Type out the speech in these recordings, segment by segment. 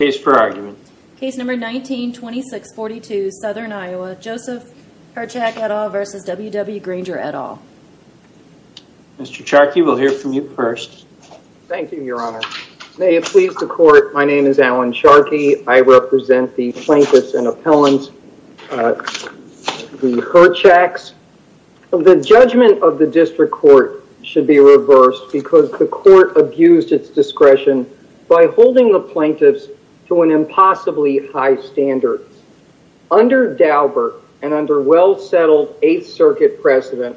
Mr. Charkey, we'll hear from you first. Thank you, your honor. May it please the court, my name is Alan Charkey. I represent the plaintiffs and appellants, the Hirchaks. The judgment of the district court should be reversed because the court abused its discretion by holding the plaintiffs to an impossibly high standard. Under Daubert and under well-settled Eighth Circuit precedent,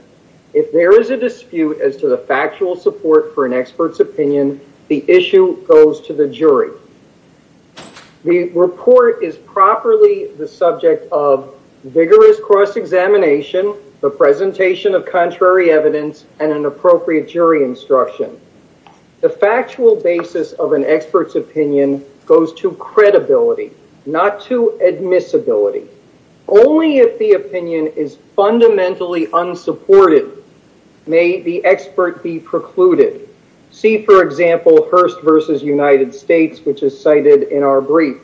if there is a dispute as to the factual support for an expert's opinion, the issue goes to the jury. The report is properly the subject of vigorous cross-examination, the presentation of contrary evidence and an appropriate jury instruction. The factual basis of an expert's opinion goes to credibility, not to admissibility. Only if the opinion is fundamentally unsupported may the expert be precluded. See for example, Hearst v. United States, which is cited in our brief.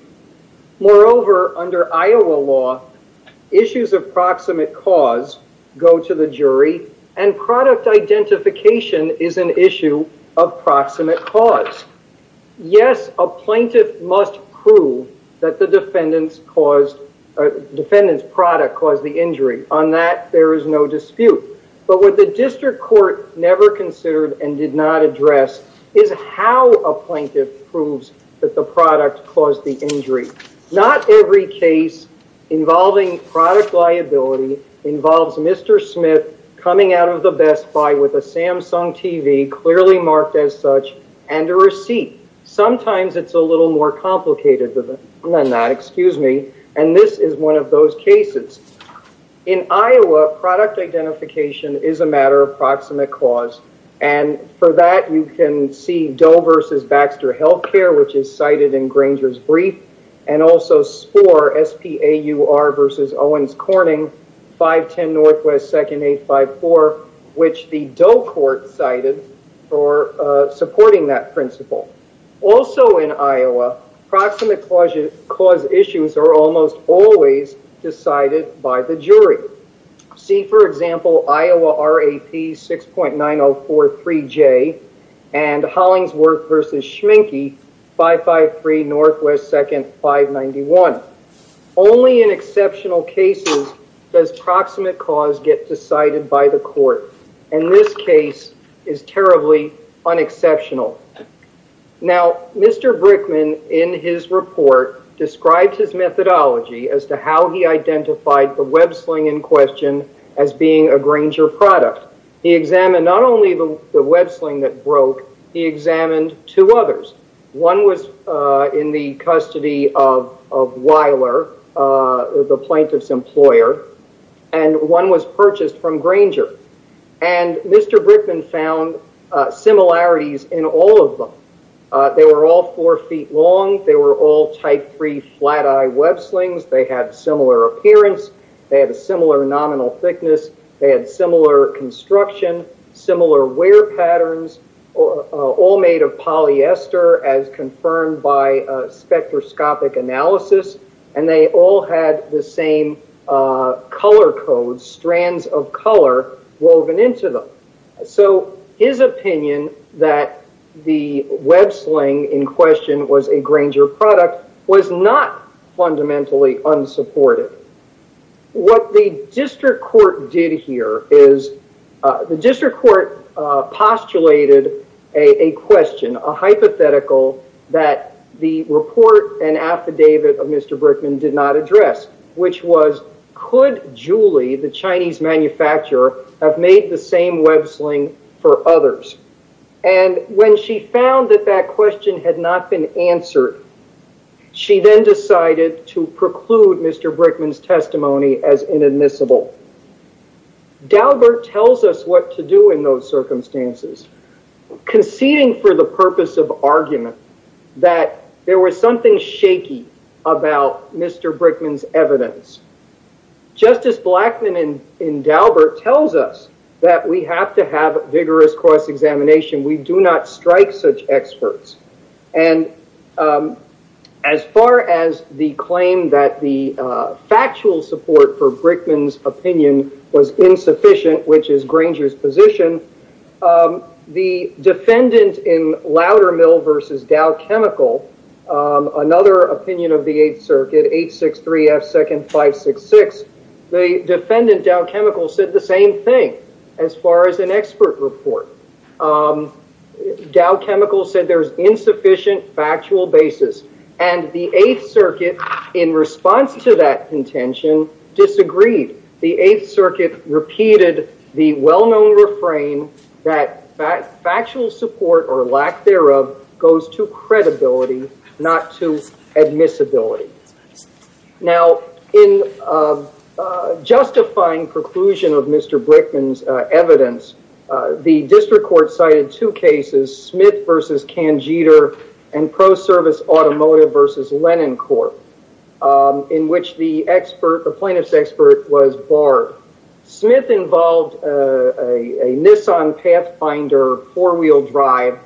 Moreover, under Iowa law, issues of proximate cause go to the jury, and product identification is an issue of proximate cause. Yes, a plaintiff must prove that the defendant's product caused the injury. On that, there is no dispute. But what the district court never considered and did not address is how a plaintiff proves that the product caused the injury. Not every case involving product liability involves Mr. Smith coming out of the Best Selling TV, clearly marked as such, and a receipt. Sometimes it's a little more complicated than that, and this is one of those cases. In Iowa, product identification is a matter of proximate cause, and for that, you can see Doe v. Baxter Healthcare, which is cited in Granger's brief, and also SPOR, S-P-A-U-R v. Owens Corning, 510 NW 2nd 854, which the Doe court cited for supporting that principle. Also in Iowa, proximate cause issues are almost always decided by the jury. See for example, Iowa RAP 6.9043J, and Hollingsworth v. Schmincke, 553 NW 2nd 591. Only in exceptional cases does proximate cause get decided by the court, and this case is terribly unexceptional. Now Mr. Brickman, in his report, described his methodology as to how he identified the web sling in question as being a Granger product. He examined not only the web sling that broke, he examined two others. One was in the custody of Weiler, the plaintiff's employer, and one was purchased from Granger, and Mr. Brickman found similarities in all of them. They were all 4 feet long, they were all type 3 flat eye web slings, they had similar appearance, they had a similar nominal thickness, they had similar construction, similar wear patterns, all made of polyester, as confirmed by spectroscopic analysis, and they all had the same color code, strands of color, woven into them. So his opinion that the web sling in question was a Granger product was not fundamentally unsupported. What the district court did here is, the district court postulated a question, a hypothetical that the report and affidavit of Mr. Brickman did not address, which was, could Julie, the Chinese manufacturer, have made the same web sling for others? And when she found that that question had not been answered, she then decided to preclude Mr. Brickman's testimony as inadmissible. Daubert tells us what to do in those circumstances, conceding for the purpose of argument that there was something shaky about Mr. Brickman's evidence. Justice Blackman in Daubert tells us that we have to have vigorous cross-examination, we do not strike such experts. And as far as the claim that the factual support for Brickman's opinion was insufficient, which is Granger's position, the defendant in Loudermill v. Dow Chemical, another opinion of the Eighth Circuit, 863 F. Second 566, the defendant, Dow Chemical, said the same thing as far as an expert report. Dow Chemical said there's insufficient factual basis. And the Eighth Circuit, in response to that contention, disagreed. The Eighth Circuit repeated the well-known refrain that factual support or lack thereof goes to credibility, not to admissibility. Now, in justifying preclusion of Mr. Brickman's evidence, the district court cited two cases, Smith v. Cangeter and Pro Service Automotive v. Lennon Court, in which the plaintiff's expert was barred. Smith involved a Nissan Pathfinder four-wheel drive,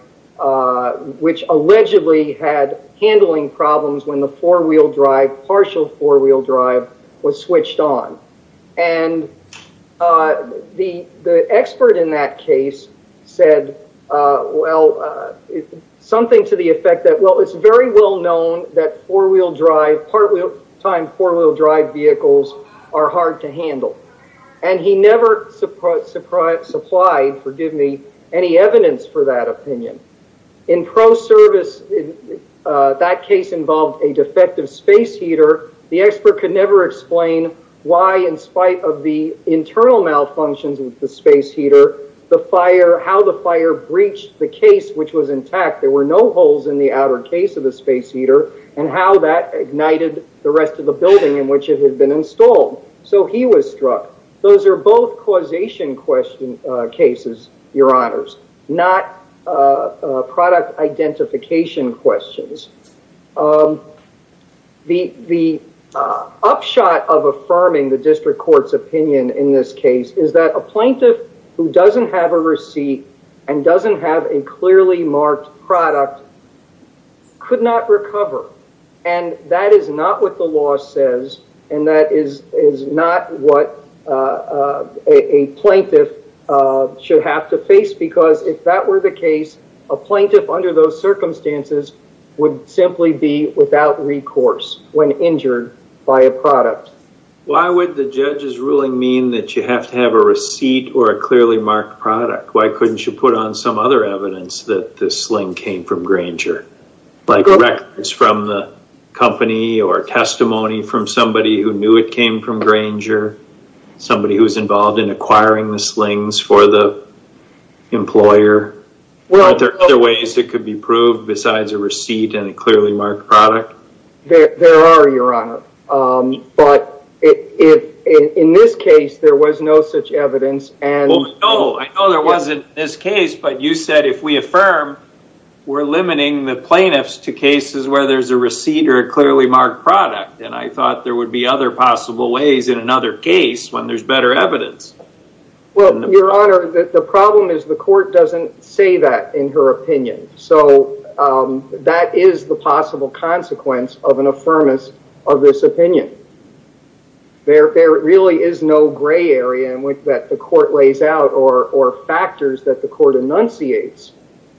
which allegedly had handling problems when the four-wheel drive, partial four-wheel drive, was switched on. And the expert in that case said, well, something to the effect that, well, it's very well-known that four-wheel drive, part-time four-wheel drive vehicles are hard to handle. And he never supplied, forgive me, any evidence for that opinion. In Pro Service, that case involved a defective space heater. The expert could never explain why, in spite of the internal malfunctions with the space heater, the fire, how the fire breached the case which was intact. There were no holes in the outer case of the space heater, and how that ignited the rest of the building in which it had been installed. So he was struck. Those are both causation cases, Your Honors, not product identification questions. The upshot of affirming the district court's opinion in this case is that a plaintiff who doesn't have a receipt and doesn't have a clearly marked product could not recover. And that is not what the law says, and that is not what a plaintiff should have to face. Because if that were the case, a plaintiff under those circumstances would simply be without recourse when injured by a product. Why would the judge's ruling mean that you have to have a receipt or a clearly marked product? Why couldn't you put on some other evidence that this sling came from Granger? Like records from the company or testimony from somebody who knew it came from Granger, somebody who was involved in acquiring the slings for the employer. Aren't there other ways it could be proved besides a receipt and a clearly marked product? There are, Your Honor. But in this case, there was no such evidence. No, I know there wasn't in this case, but you said if we affirm, we're limiting the plaintiffs to cases where there's a receipt or a clearly marked product. And I thought there would be other possible ways in another case when there's better evidence. Well, Your Honor, the problem is the court doesn't say that in her opinion. So that is the possible consequence of an affirmance of this opinion. There really is no gray area that the court lays out or factors that the court enunciates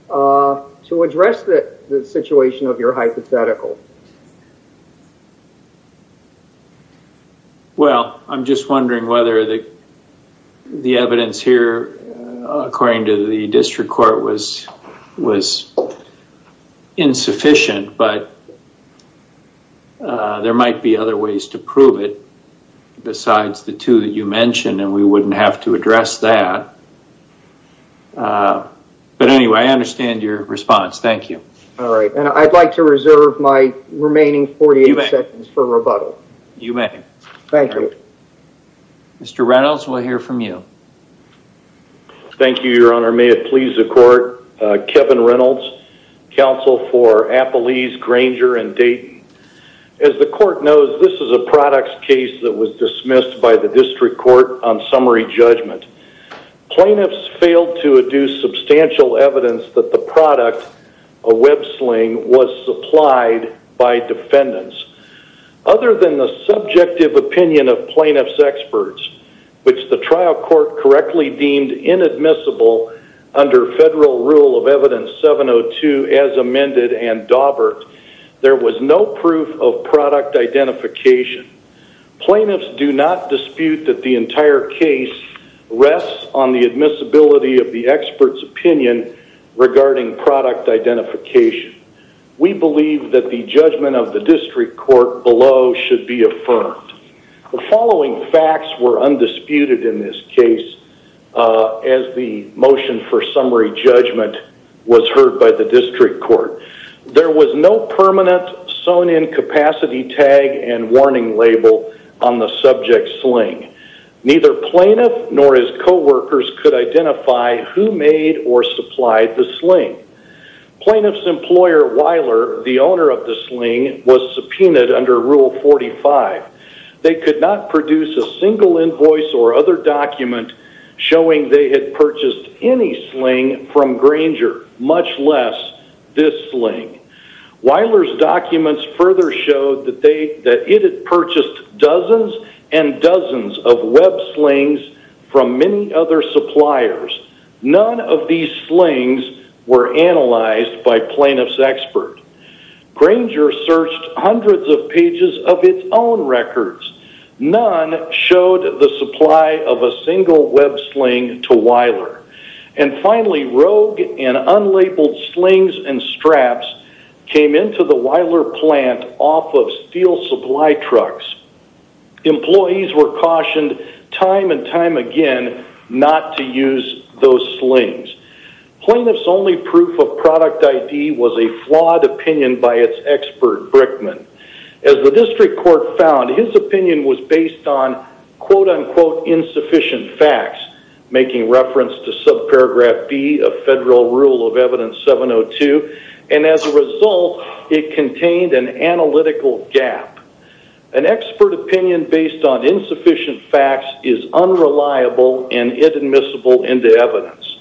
to address the situation of your hypothetical. Well, I'm just wondering whether the evidence here, according to the district court, was to prove it besides the two that you mentioned, and we wouldn't have to address that. But anyway, I understand your response. Thank you. All right. And I'd like to reserve my remaining 48 seconds for rebuttal. You may. Thank you. All right. Mr. Reynolds, we'll hear from you. Thank you, Your Honor. May it please the court, Kevin Reynolds, counsel for Appalese, Granger, and Dayton. As the court knows, this is a products case that was dismissed by the district court on summary judgment. Plaintiffs failed to adduce substantial evidence that the product, a web sling, was supplied by defendants. Other than the subjective opinion of plaintiffs' experts, which the trial court correctly deemed inadmissible under federal rule of evidence 702 as amended and daubered, there was no proof of product identification. Plaintiffs do not dispute that the entire case rests on the admissibility of the expert's opinion regarding product identification. We believe that the judgment of the district court below should be affirmed. The following facts were undisputed in this case as the motion for summary judgment was heard by the district court. There was no permanent sewn-in capacity tag and warning label on the subject's sling. Neither plaintiff nor his coworkers could identify who made or supplied the sling. Plaintiff's employer, Weiler, the owner of the sling, was subpoenaed under Rule 45. They could not produce a single invoice or other document showing they had purchased any sling from Granger, much less this sling. Weiler's documents further showed that it had purchased dozens and dozens of web slings from many other suppliers. None of these slings were analyzed by plaintiff's expert. Granger searched hundreds of pages of its own records. None showed the supply of a single web sling to Weiler. And finally, rogue and unlabeled slings and straps came into the Weiler plant off of steel supply trucks. Employees were cautioned time and time again not to use those slings. Plaintiff's only proof of product ID was a flawed opinion by its expert, Brickman. As the district court found, his opinion was based on quote-unquote insufficient facts, making reference to subparagraph B of federal rule of evidence 702. And as a result, it contained an analytical gap. An expert opinion based on insufficient facts is unreliable and inadmissible into evidence.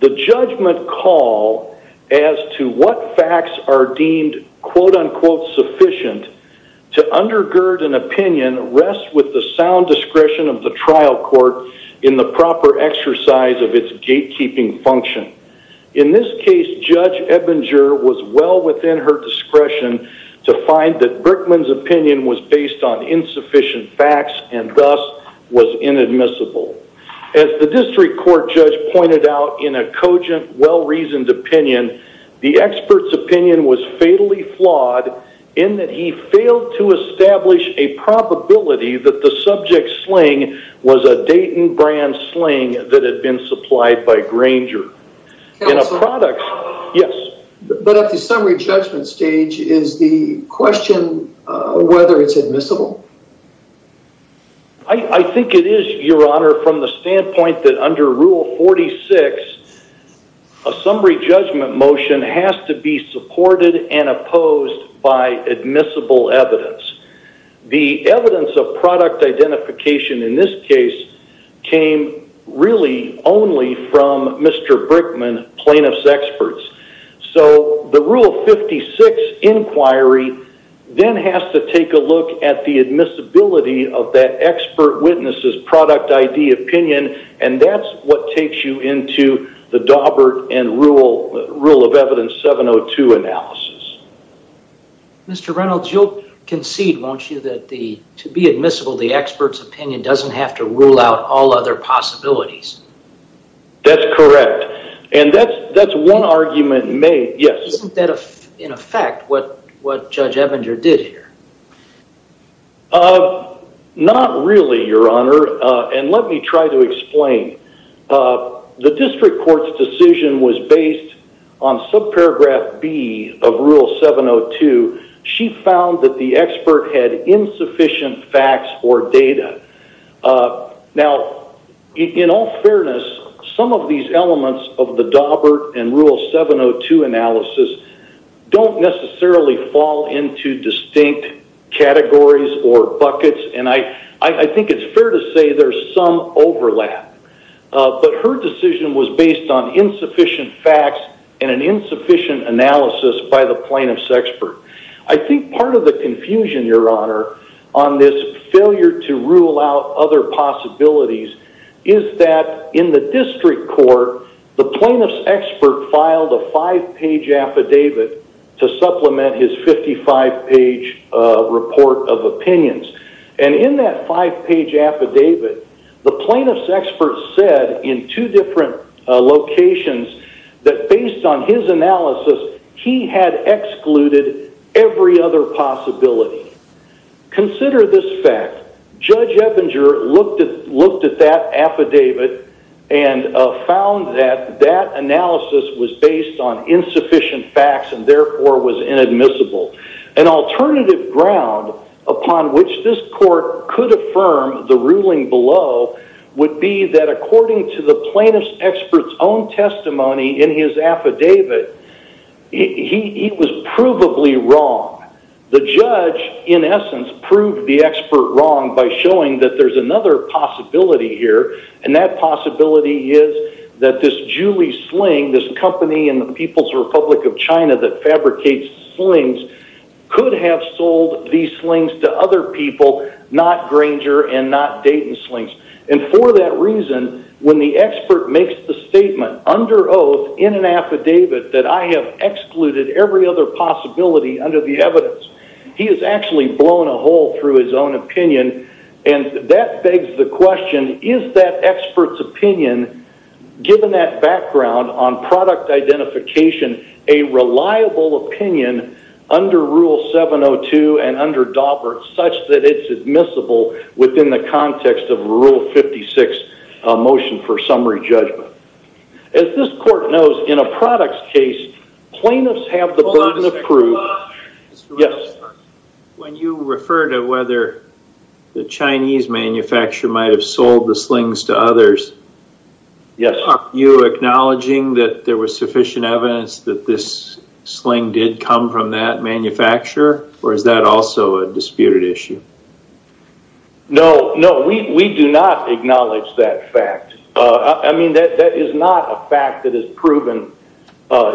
The judgment call as to what facts are deemed quote-unquote sufficient to undergird an opinion rests with the sound discretion of the trial court in the proper exercise of its gatekeeping function. In this case, Judge Ebinger was well within her discretion to find that Brickman's opinion was based on insufficient facts and thus was inadmissible. As the district court judge pointed out in a cogent, well-reasoned opinion, the expert's opinion was fatally flawed in that he failed to establish a probability that the subject sling was a Dayton brand sling that had been supplied by Granger. In a product... Counselor? Yes? But at the summary judgment stage, is the question whether it's admissible? I think it is, Your Honor, from the standpoint that under Rule 46, a summary judgment motion has to be supported and opposed by admissible evidence. The evidence of product identification in this case came really only from Mr. Brickman, plaintiff's experts. So the Rule 56 inquiry then has to take a look at the admissibility of that expert witness's product ID opinion, and that's what takes you into the Daubert and Rule of Evidence 702 analysis. Mr. Reynolds, you'll concede, won't you, that to be admissible, the expert's opinion doesn't have to rule out all other possibilities? That's correct. And that's one argument made, yes. Isn't that, in effect, what Judge Ebinger did here? Not really, Your Honor, and let me try to explain. The district court's decision was based on subparagraph B of Rule 702. She found that the expert had insufficient facts or data. Now, in all fairness, some of these elements of the Daubert and Rule 702 analysis don't necessarily fall into distinct categories or buckets, and I think it's fair to say there's some overlap. But her decision was based on insufficient facts and an insufficient analysis by the plaintiff's expert. I think part of the confusion, Your Honor, on this failure to rule out other possibilities is that in the district court, the plaintiff's expert filed a five-page affidavit to supplement his 55-page report of opinions. And in that five-page affidavit, the plaintiff's expert said in two different locations that based on his analysis, he had excluded every other possibility. Consider this fact. Judge Ebinger looked at that affidavit and found that that analysis was based on insufficient facts and therefore was inadmissible. An alternative ground upon which this court could affirm the ruling below would be that according to the plaintiff's expert's own testimony in his affidavit, he was provably wrong. The judge, in essence, proved the expert wrong by showing that there's another possibility here, and that possibility is that this Julie Sling, this company in the People's Republic of China that fabricates slings, could have sold these slings to other people, not Granger and not Dayton slings. And for that reason, when the expert makes the statement under oath in an affidavit that I have excluded every other possibility under the evidence, he has actually blown a hole through his own opinion, and that begs the question, is that expert's opinion, given that background on product identification, a reliable opinion under Rule 702 and under Robert, such that it's admissible within the context of Rule 56 motion for summary judgment? As this court knows, in a product's case, plaintiffs have the burden of proof. Yes? When you refer to whether the Chinese manufacturer might have sold the slings to others, are you acknowledging that there was sufficient evidence that this sling did come from that manufacturer, or is that also a disputed issue? No, no, we do not acknowledge that fact. I mean, that is not a fact that is proven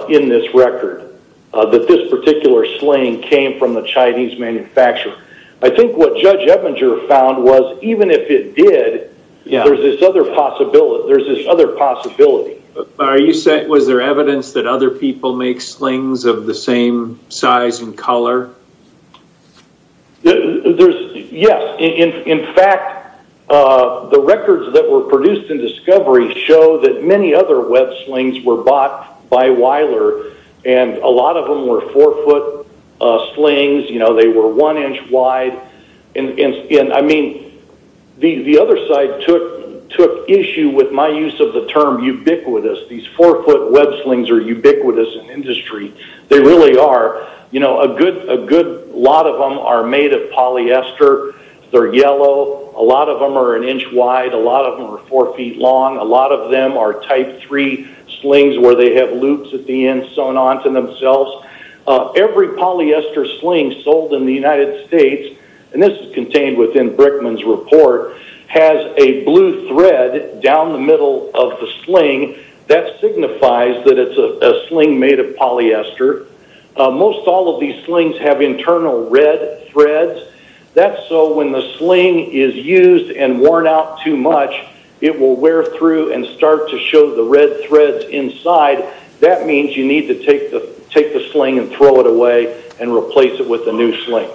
in this record, that this particular sling came from the Chinese manufacturer. I think what Judge Ebinger found was, even if it did, there's this other possibility. Are you saying, was there evidence that other people make slings of the same size and color? Yes. In fact, the records that were produced in discovery show that many other web slings were bought by Weiler, and a lot of them were four-foot slings. They were one inch wide. I mean, the other side took issue with my use of the term ubiquitous. These four-foot web slings are ubiquitous in industry. They really are. A good lot of them are made of polyester. They're yellow. A lot of them are an inch wide. A lot of them are four feet long. A lot of them are type three slings where they have loops at the end sewn onto themselves. Every polyester sling sold in the United States, and this is contained within Brickman's report, has a blue thread down the middle of the sling. That signifies that it's a sling made of polyester. Most all of these slings have internal red threads. That's so when the sling is used and worn out too much, it will wear through and start to show the red threads inside. That means you need to take the sling and throw it away and replace it with a new sling.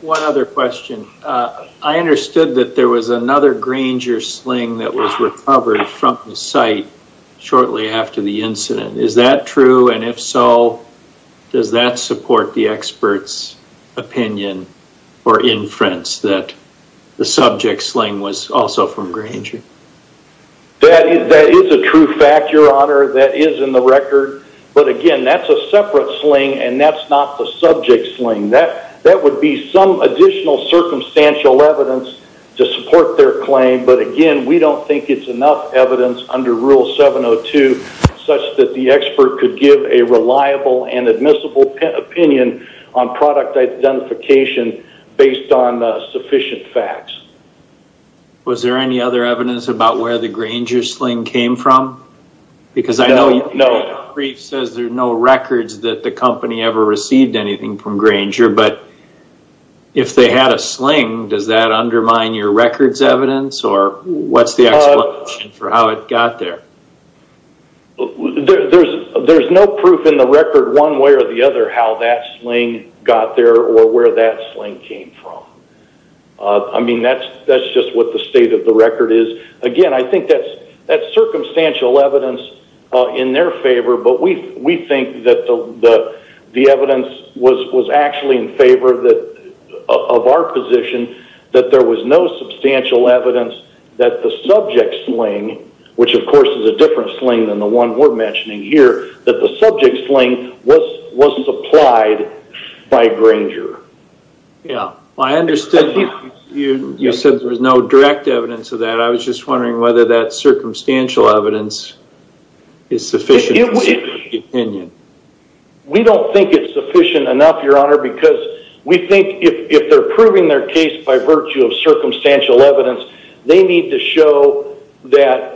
One other question. I understood that there was another Granger sling that was recovered from the site shortly after the incident. Is that true? If so, does that support the expert's opinion or inference that the subject sling was also from Granger? That is a true fact, Your Honor. That is in the record. Again, that's a separate sling and that's not the subject sling. That would be some additional circumstantial evidence to support their claim. Again, we don't think it's enough evidence under Rule 702 such that the expert could give a reliable and admissible opinion on product identification based on sufficient facts. Was there any other evidence about where the Granger sling came from? No. I know your brief says there are no records that the company ever received anything from Granger, but if they had a sling, does that undermine your record's evidence? What's the explanation for how it got there? There's no proof in the record one way or the other how that sling got there or where that sling came from. That's just what the state of the record is. Again, I think that's circumstantial evidence in their favor, but we think that the evidence was actually in favor of our position that there was no substantial evidence that the subject sling, which of course is a different sling than the one we're mentioning here, that the subject sling was supplied by Granger. I understand you said there was no direct evidence of that. I was just wondering whether that circumstantial evidence is sufficient in your opinion. We don't think it's sufficient enough, Your Honor, because we think if they're proving their case by virtue of circumstantial evidence, they need to show that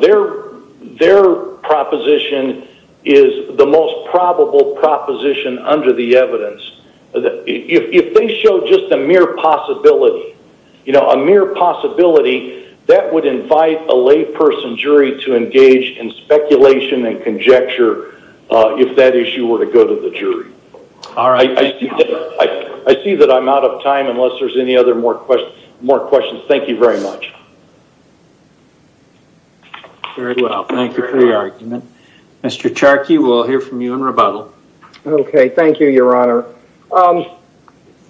their proposition is If they show just a mere possibility, you know, a mere possibility, that would invite a layperson jury to engage in speculation and conjecture if that issue were to go to the jury. I see that I'm out of time unless there's any other more questions. Thank you very much. Very well. Thank you for your argument. Mr. Charkey, we'll hear from you in rebuttal. Okay, thank you, Your Honor.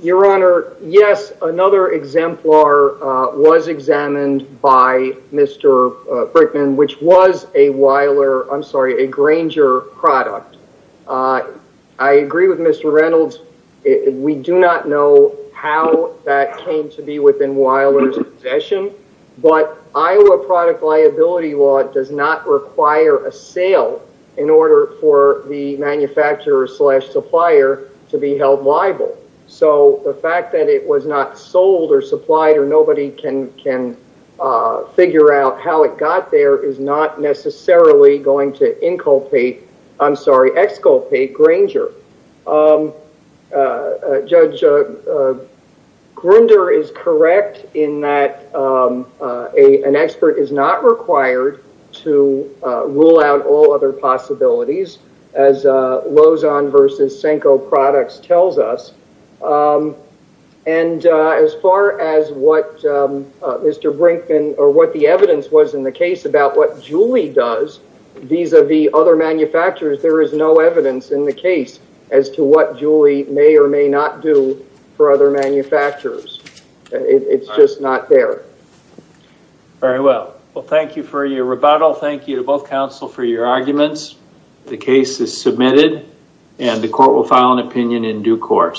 Your Honor, yes, another exemplar was examined by Mr. Brickman, which was a Weiler, I'm sorry, a Granger product. I agree with Mr. Reynolds. We do not know how that came to be within Weiler's possession, but Iowa product liability law does not require a sale in order for the manufacturer slash supplier to be held liable. So the fact that it was not sold or supplied or nobody can figure out how it got there is not necessarily going to inculpate, I'm sorry, exculpate Granger. Judge, Granger is correct in that an expert is not required to rule out all other possibilities as Lozon versus Senko products tells us. And as far as what Mr. Brickman or what the evidence was in the case about what Julie does vis-a-vis other manufacturers, there is no evidence in the case as to what Julie may or may not do for other manufacturers. It's just not there. Very well. Well, thank you for your rebuttal. Thank you to both counsel for your arguments. The case is submitted and the court will file an opinion in due course.